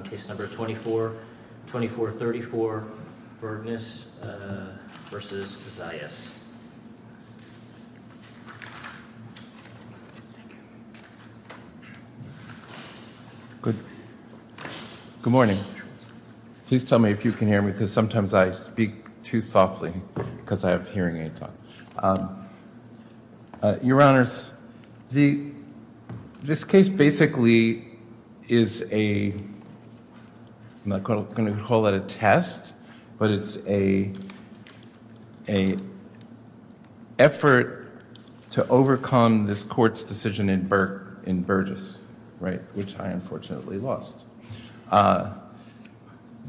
on Case No. 2434, Bergnes v. Zayas. Good morning. Please tell me if you can hear me because sometimes I speak too softly because I have hearing aids on. Your Honors, this case basically is a, I'm not going to call it a test, but it's a effort to overcome this court's decision in Berges, which I unfortunately lost.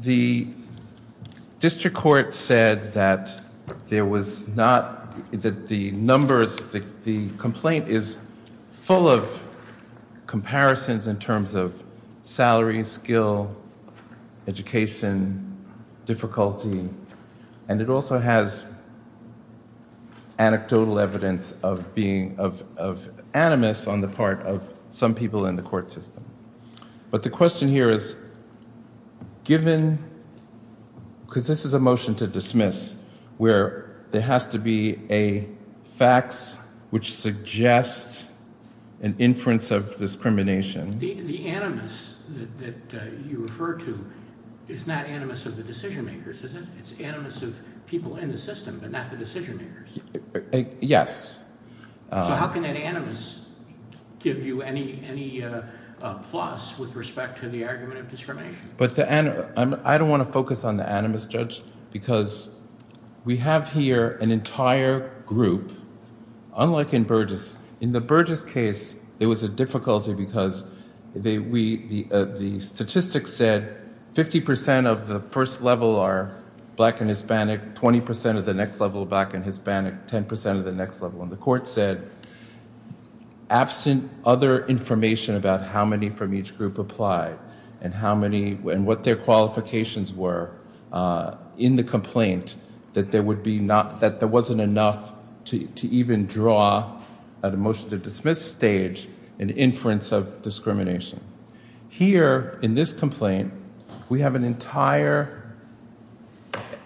The district court said that there was not, that the numbers, the complaint is full of comparisons in terms of salary, skill, education, difficulty, and it also has anecdotal evidence of being, of animus on the part of some people in the So what I'm saying here is given, because this is a motion to dismiss where there has to be a fax which suggests an inference of discrimination. The animus that you refer to is not animus of the decision makers, is it? It's animus of people in the system but not the decision makers. Yes. So how can that animus give you any plus with respect to the argument of I don't want to focus on the animus, Judge, because we have here an entire group, unlike in Berges. In the Berges case, there was a difficulty because the statistics said 50% of the first level are black and Hispanic, 20% of the next level are black and The court said, absent other information about how many from each group applied and what their qualifications were in the complaint, that there wasn't enough to even draw at a motion to dismiss stage an inference of discrimination. Here, in this complaint, we have an entire,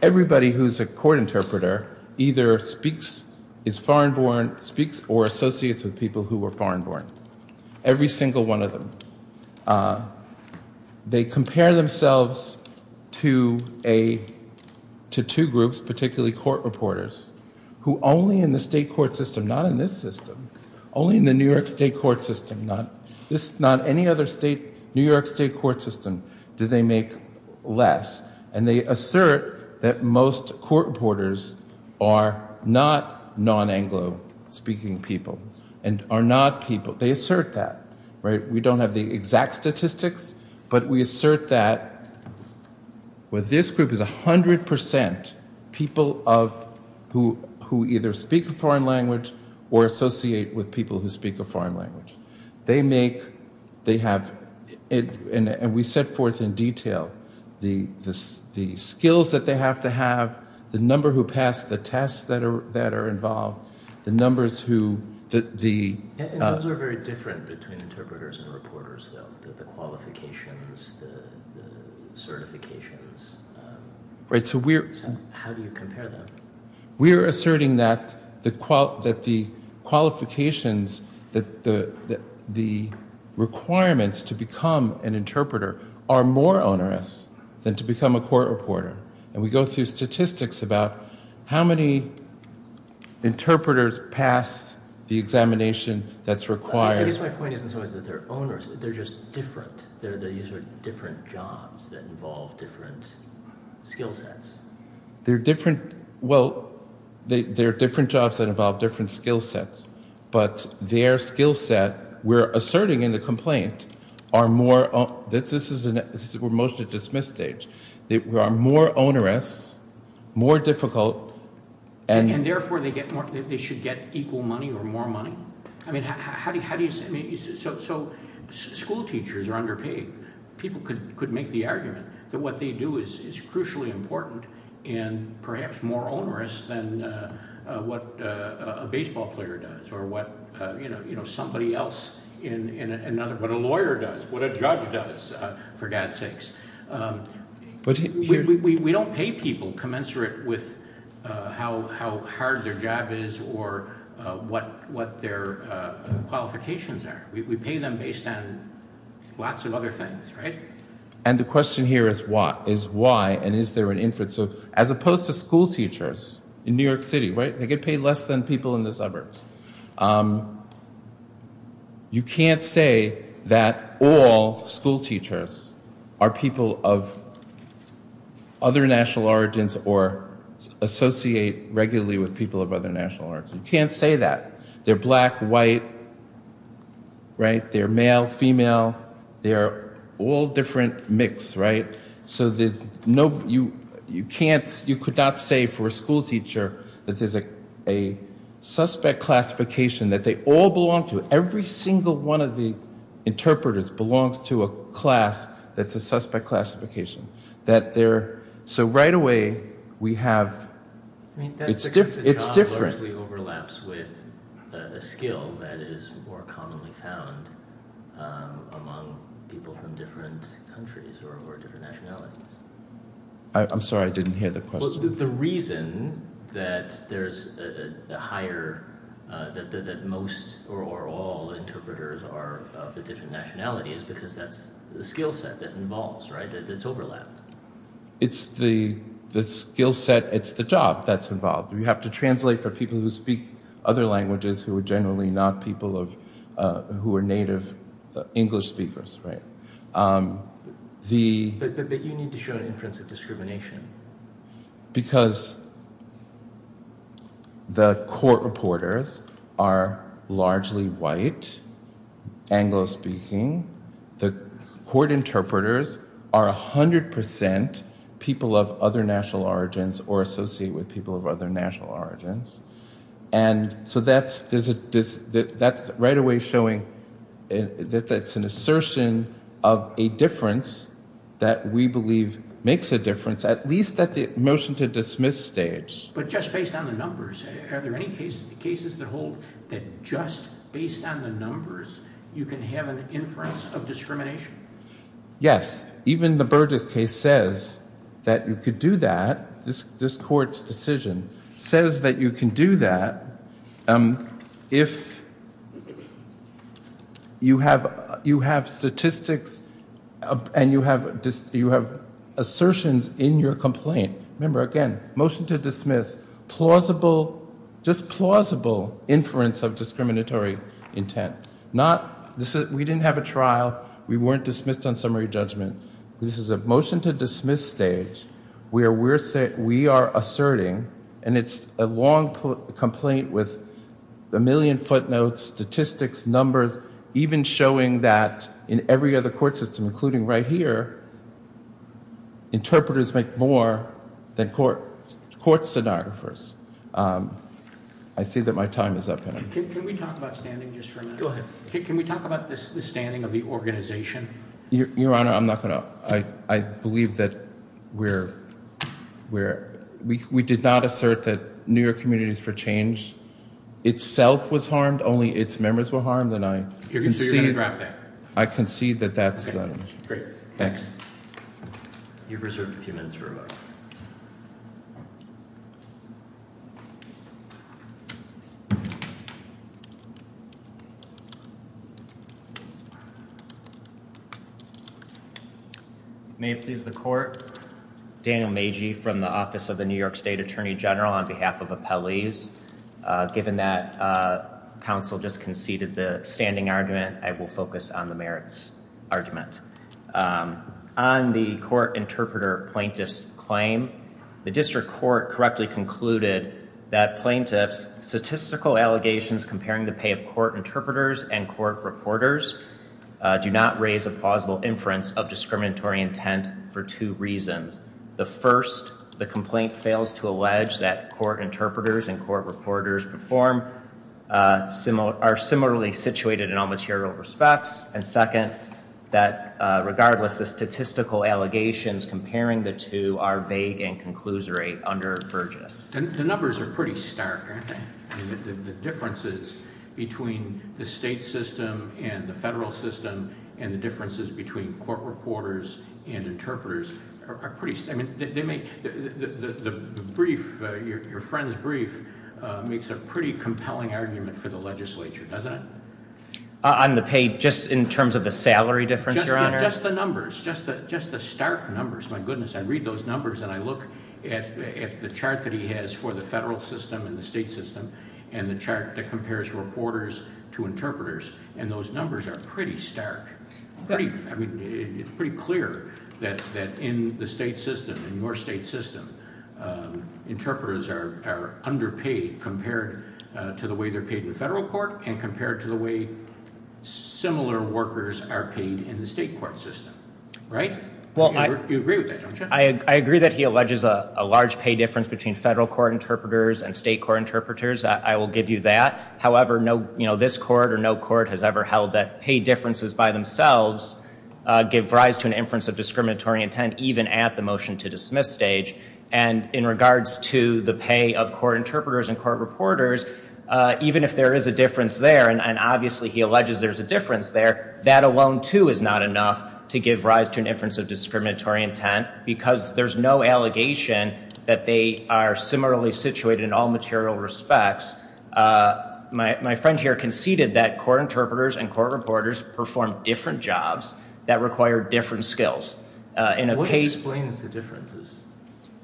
everybody who's a court interpreter either speaks, is foreign born, speaks or associates with people who are foreign born. Every single one of them. They compare themselves to two groups, particularly court reporters, who only in the state court system, not in this system, only in the New York state court system, not any other New York state court system, do they make less. And they assert that most court reporters are not non-Anglo speaking people, and are not people, they assert that. We don't have the exact statistics, but we assert that with this group, it's 100% people who either speak a foreign language or associate with people who speak a foreign language. They make, they have, and we set forth in detail, the skills that they have to have, the number who pass the tests that are involved, the numbers who, the And those are very different between interpreters and reporters though, the qualifications, the certifications. Right, so we're How do you compare them? We're asserting that the qualifications, that the requirements to become an interpreter are more onerous than to become a court reporter. And we go through statistics about how many interpreters pass the examination that's required. I guess my point isn't so much that they're onerous, they're just different. They use different jobs that involve different skill sets. They're different. Well, they're different jobs that involve different skill sets, but their skill set, we're asserting in the complaint, are more, this is a motion to dismiss stage, they are more onerous, more difficult, and And therefore they get more, they should get equal money or more money? I mean, how do you, so school teachers are underpaid. People could make the argument that what they do is crucially important and perhaps more onerous than what a baseball player does or what somebody else, what a lawyer does, what a judge does, for God's sakes. We don't pay people commensurate with how hard their job is or what their qualifications are. We pay them based on lots of other things, right? And the question here is why, and is there an inference of, as opposed to school teachers in New York City, right? They get paid less than people in the suburbs. You can't say that all school teachers are people of other national origins or associate regularly with people of other national origins. You can't say that. They're black, white, right? They're male, female. They're all different mix, right? So you could not say for a school teacher that there's a suspect classification that they all belong to. Every single one of the interpreters belongs to a class that's a suspect classification. So right away we have, it's different. The job largely overlaps with a skill that is more commonly found among people from different countries or different nationalities. I'm sorry, I didn't hear the question. Well, the reason that there's a higher, that most or all interpreters are of a different nationality is because that's the skill set that involves, right? It's overlapped. It's the skill set, it's the job that's involved. You have to translate for people who speak other languages, who are generally not people of, who are native English speakers, right? But you need to show an inference of discrimination. Because the court reporters are largely white, Anglo-speaking. The court interpreters are 100% people of other national origins or associate with people of other national origins. And so that's right away showing that that's an assertion of a difference that we believe makes a difference, at least at the motion to dismiss stage. But just based on the numbers, are there any cases that hold that just based on the numbers you can have an inference of discrimination? Yes. Even the Burgess case says that you could do that, this court's decision, says that you can do that if you have statistics and you have assertions in your complaint. Remember, again, motion to dismiss, just plausible inference of discriminatory intent. We didn't have a trial. We weren't dismissed on summary judgment. This is a motion to dismiss stage where we are asserting, and it's a long complaint with a million footnotes, statistics, numbers, even showing that in every other court system, including right here, interpreters make more than court stenographers. I see that my time is up. Can we talk about standing just for a minute? Go ahead. Can we talk about the standing of the organization? Your Honor, I'm not going to. I believe that we did not assert that New York Communities for Change itself was harmed, only its members were harmed. So you're going to grab that? I concede that that's. Okay, great. Thanks. You've reserved a few minutes for rebuttal. May it please the Court. Daniel Magee from the Office of the New York State Attorney General on behalf of appellees. Given that counsel just conceded the standing argument, I will focus on the merits argument. On the court interpreter plaintiff's claim, the district court correctly concluded that plaintiffs' statistical allegations comparing the pay of court interpreters and court reporters do not raise a plausible inference of discriminatory intent for two reasons. The first, the complaint fails to allege that court interpreters and court reporters perform are similarly situated in all material respects. And second, that regardless, the statistical allegations comparing the two are vague and conclusory under Burgess. The numbers are pretty stark, aren't they? The differences between the state system and the federal system and the differences between court reporters and interpreters are pretty stark. The brief, your friend's brief, makes a pretty compelling argument for the legislature, doesn't it? On the pay, just in terms of the salary difference, your honor? Just the numbers, just the stark numbers, my goodness. I read those numbers and I look at the chart that he has for the federal system and the state system, and the chart that compares reporters to interpreters, and those numbers are pretty stark. I mean, it's pretty clear that in the state system, in your state system, interpreters are underpaid compared to the way they're paid in the federal court and compared to the way similar workers are paid in the state court system, right? You agree with that, don't you? I agree that he alleges a large pay difference between federal court interpreters and state court interpreters. I will give you that. However, no, you know, this court or no court has ever held that pay differences by themselves give rise to an inference of discriminatory intent even at the motion to dismiss stage. And in regards to the pay of court interpreters and court reporters, even if there is a difference there, and obviously he alleges there's a difference there, that alone too is not enough to give rise to an inference of discriminatory intent because there's no allegation that they are similarly situated in all material respects. My friend here conceded that court interpreters and court reporters perform different jobs that require different skills. What explains the differences?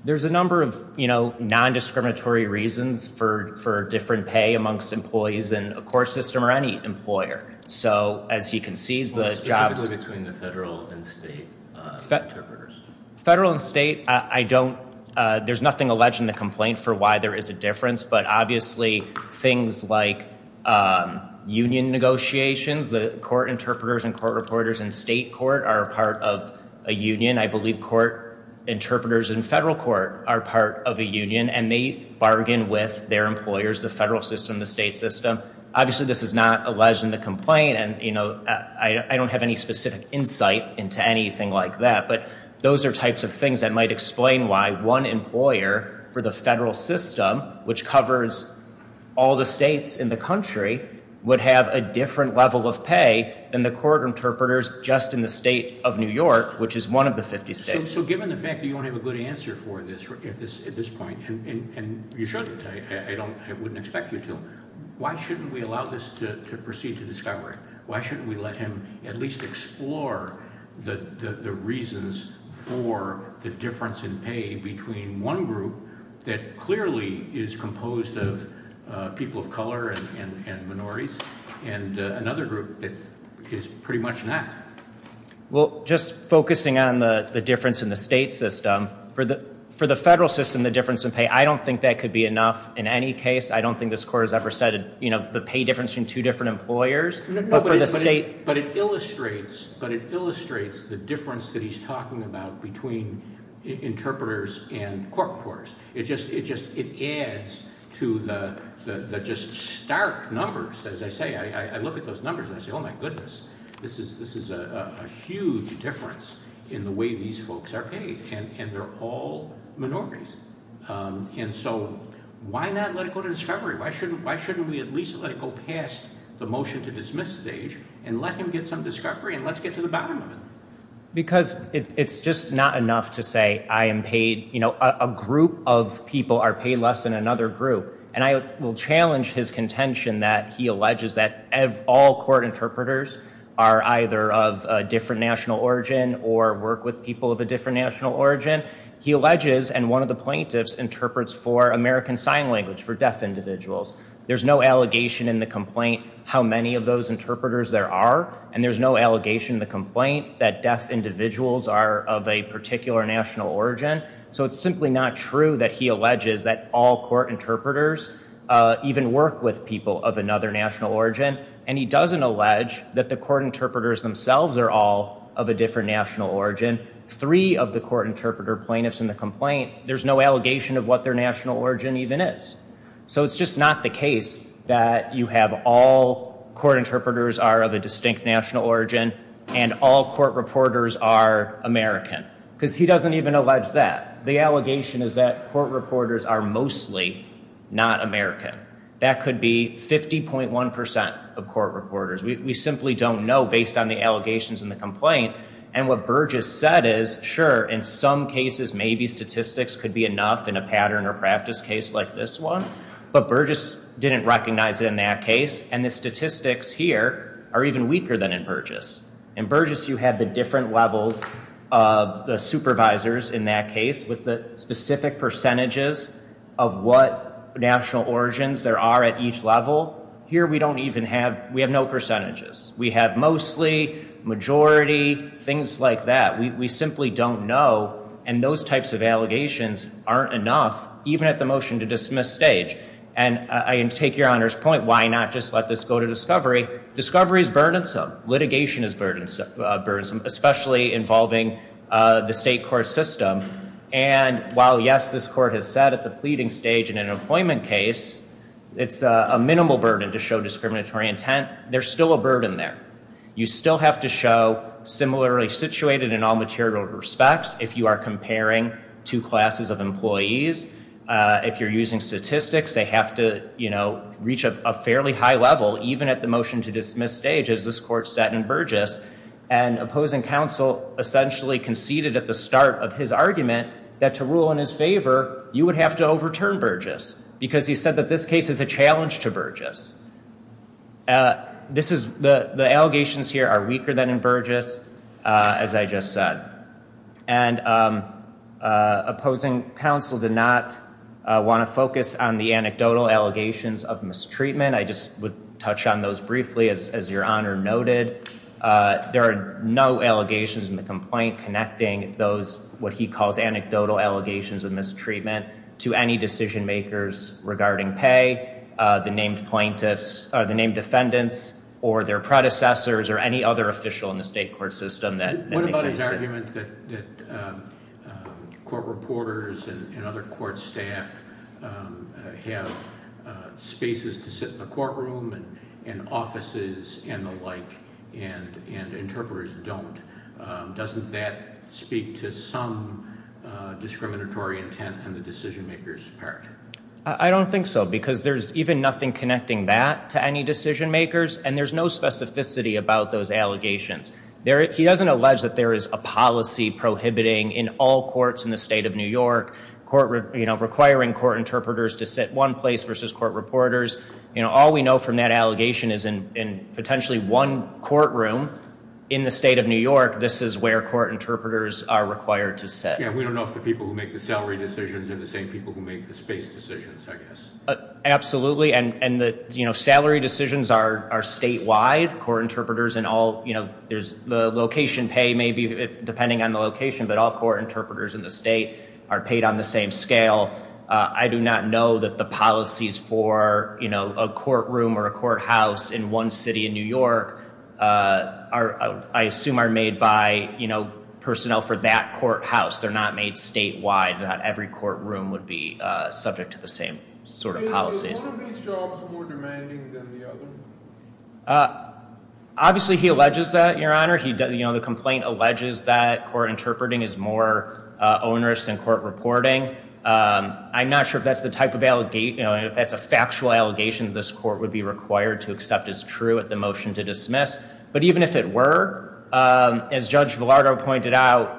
There's a number of, you know, non-discriminatory reasons for different pay amongst employees in a court system or any employer. So as he concedes the jobs... Specifically between the federal and state interpreters. Federal and state, I don't, there's nothing alleged in the complaint for why there is a difference, but obviously things like union negotiations, the court interpreters and court reporters in state court are a part of a union. I believe court interpreters in federal court are part of a union and they bargain with their employers, the federal system, the state system. Obviously this is not alleged in the complaint and, you know, I don't have any specific insight into anything like that, but those are types of things that might explain why one employer for the federal system, which covers all the states in the country, would have a different level of pay than the court interpreters just in the state of New York, which is one of the 50 states. So given the fact that you don't have a good answer for this at this point, and you shouldn't, I wouldn't expect you to, why shouldn't we allow this to proceed to discovery? Why shouldn't we let him at least explore the reasons for the difference in pay between one group that clearly is composed of people of color and minorities and another group that is pretty much not? Well, just focusing on the difference in the state system, for the federal system the difference in pay, I don't think that could be enough in any case. I don't think this court has ever said, you know, the pay difference between two different employers. But it illustrates the difference that he's talking about between interpreters and court reporters. It just adds to the just stark numbers. As I say, I look at those numbers and I say, oh, my goodness, this is a huge difference in the way these folks are paid, and they're all minorities. And so why not let it go to discovery? Why shouldn't we at least let it go past the motion to dismiss stage and let him get some discovery and let's get to the bottom of it? Because it's just not enough to say I am paid, you know, a group of people are paid less than another group. And I will challenge his contention that he alleges that all court interpreters are either of a different national origin or work with people of a different national origin. He alleges, and one of the plaintiffs interprets for American Sign Language, for deaf individuals. There's no allegation in the complaint how many of those interpreters there are. And there's no allegation in the complaint that deaf individuals are of a particular national origin. So it's simply not true that he alleges that all court interpreters even work with people of another national origin. And he doesn't allege that the court interpreters themselves are all of a different national origin. Three of the court interpreter plaintiffs in the complaint, there's no allegation of what their national origin even is. So it's just not the case that you have all court interpreters are of a distinct national origin and all court reporters are American because he doesn't even allege that. The allegation is that court reporters are mostly not American. That could be 50.1% of court reporters. We simply don't know based on the allegations in the complaint. And what Burgess said is, sure, in some cases maybe statistics could be enough in a pattern or practice case like this one. But Burgess didn't recognize it in that case. And the statistics here are even weaker than in Burgess. In Burgess you have the different levels of the supervisors in that case with the specific percentages of what national origins there are at each level. Here we don't even have, we have no percentages. We have mostly, majority, things like that. We simply don't know. And those types of allegations aren't enough even at the motion to dismiss stage. And I take your Honor's point, why not just let this go to discovery. Discovery is burdensome. Litigation is burdensome, especially involving the state court system. And while, yes, this court has said at the pleading stage in an employment case, it's a minimal burden to show discriminatory intent, there's still a burden there. You still have to show similarly situated in all material respects if you are comparing two classes of employees. If you're using statistics, they have to reach a fairly high level even at the motion to dismiss stage as this court set in Burgess. And opposing counsel essentially conceded at the start of his argument that to rule in his favor you would have to overturn Burgess because he said that this case is a challenge to Burgess. The allegations here are weaker than in Burgess, as I just said. And opposing counsel did not want to focus on the anecdotal allegations of mistreatment. I just would touch on those briefly, as your Honor noted. There are no allegations in the complaint connecting those, what he calls anecdotal allegations of mistreatment, to any decision makers regarding pay, the named plaintiffs or the named defendants or their predecessors or any other official in the state court system that makes any sense. What about his argument that court reporters and other court staff have spaces to sit in the courtroom and offices and the like and interpreters don't? Doesn't that speak to some discriminatory intent in the decision maker's character? I don't think so because there's even nothing connecting that to any decision makers and there's no specificity about those allegations. He doesn't allege that there is a policy prohibiting in all courts in the state of New York, requiring court interpreters to sit one place versus court reporters. All we know from that allegation is in potentially one courtroom in the state of New York, this is where court interpreters are required to sit. Yeah, we don't know if the people who make the salary decisions are the same people who make the space decisions, I guess. Absolutely, and salary decisions are statewide. Court interpreters in all, the location pay may be, depending on the location, but all court interpreters in the state are paid on the same scale. I do not know that the policies for a courtroom or a courthouse in one city in New York, I assume are made by personnel for that courthouse. They're not made statewide. Not every courtroom would be subject to the same sort of policies. Is one of these jobs more demanding than the other? Obviously, he alleges that, Your Honor. The complaint alleges that court interpreting is more onerous than court reporting. I'm not sure if that's a factual allegation this court would be required to accept as true at the motion to dismiss, but even if it were, as Judge Villardo pointed out,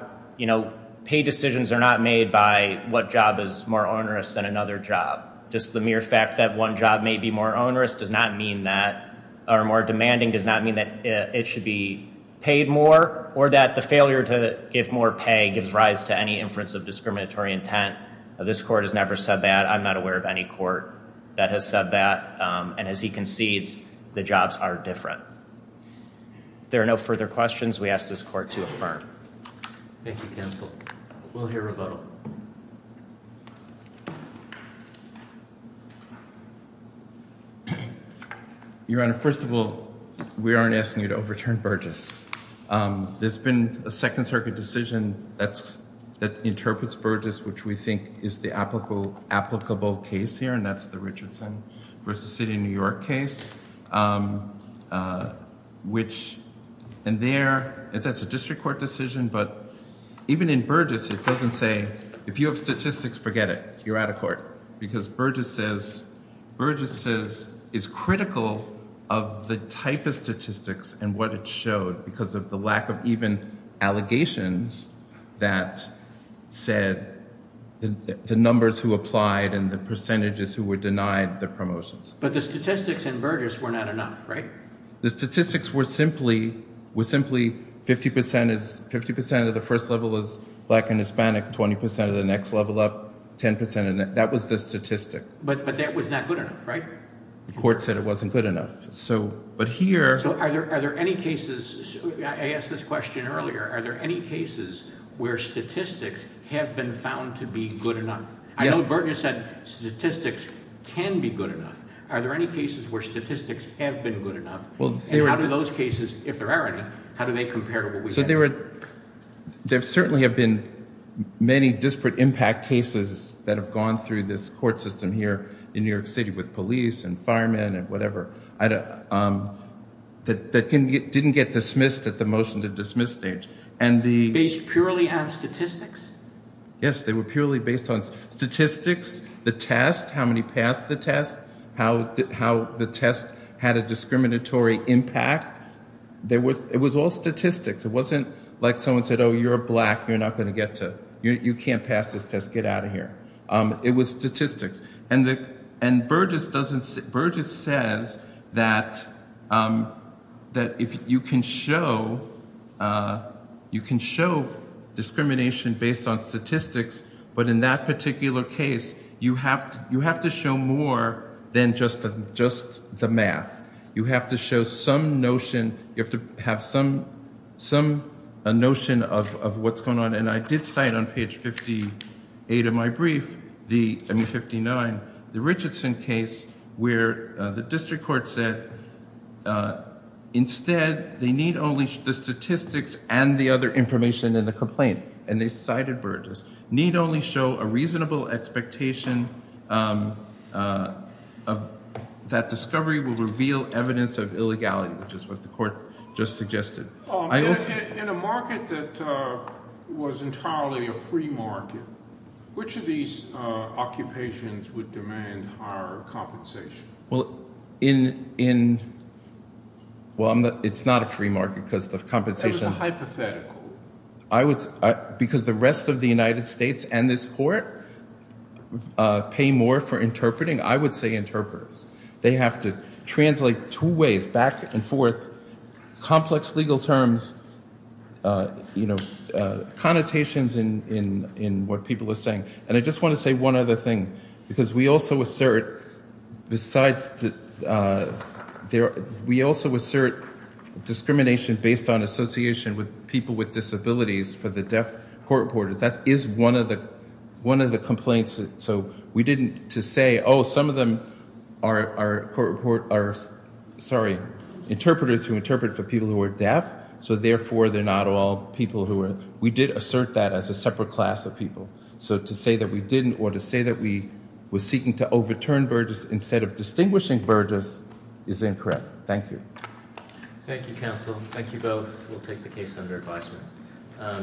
pay decisions are not made by what job is more onerous than another job. Just the mere fact that one job may be more onerous does not mean that, or more demanding does not mean that it should be paid more, or that the failure to give more pay gives rise to any inference of discriminatory intent. This court has never said that. I'm not aware of any court that has said that. And as he concedes, the jobs are different. If there are no further questions, we ask this court to affirm. Thank you, counsel. We'll hear rebuttal. Your Honor, first of all, we aren't asking you to overturn Burgess. There's been a Second Circuit decision that interprets Burgess, which we think is the applicable case here, and that's the Richardson v. City of New York case. And that's a district court decision, but even in Burgess it doesn't say, if you have statistics, forget it, you're out of court. Because Burgess is critical of the type of statistics and what it showed, because of the lack of even allegations that said the numbers who applied and the percentages who were denied the promotions. But the statistics in Burgess were not enough, right? The statistics were simply 50 percent of the first level was black and Hispanic, 20 percent of the next level up, 10 percent, and that was the statistic. But that was not good enough, right? The court said it wasn't good enough. So are there any cases, I asked this question earlier, are there any cases where statistics have been found to be good enough? I know Burgess said statistics can be good enough, but are there any cases where statistics have been good enough? And how do those cases, if there are any, how do they compare to what we have? There certainly have been many disparate impact cases that have gone through this court system here in New York City with police and firemen and whatever that didn't get dismissed at the motion to dismiss stage. Based purely on statistics? Yes, they were purely based on statistics, the test, how many passed the test, how the test had a discriminatory impact. It was all statistics. It wasn't like someone said, oh, you're black, you're not going to get to, you can't pass this test, get out of here. It was statistics. And Burgess says that if you can show discrimination based on statistics, but in that particular case, you have to show more than just the math. You have to show some notion, you have to have some notion of what's going on. And I did cite on page 58 of my brief, I mean 59, the Richardson case, where the district court said instead they need only the statistics and the other information in the complaint. And they cited Burgess. Need only show a reasonable expectation that discovery will reveal evidence of illegality, which is what the court just suggested. In a market that was entirely a free market, which of these occupations would demand higher compensation? Well, in, well, it's not a free market because the compensation Where is the hypothetical? I would, because the rest of the United States and this court pay more for interpreting, I would say interpreters. They have to translate two ways back and forth, complex legal terms, you know, connotations in what people are saying. And I just want to say one other thing, because we also assert, besides, we also assert discrimination based on association with people with disabilities for the deaf court reporters. That is one of the complaints. So we didn't, to say, oh, some of them are interpreters who interpret for people who are deaf, so therefore they're not all people who are, we did assert that as a separate class of people. So to say that we didn't or to say that we were seeking to overturn Burgess instead of distinguishing Burgess is incorrect. Thank you. Thank you, counsel. Thank you both. We'll take the case under advisement.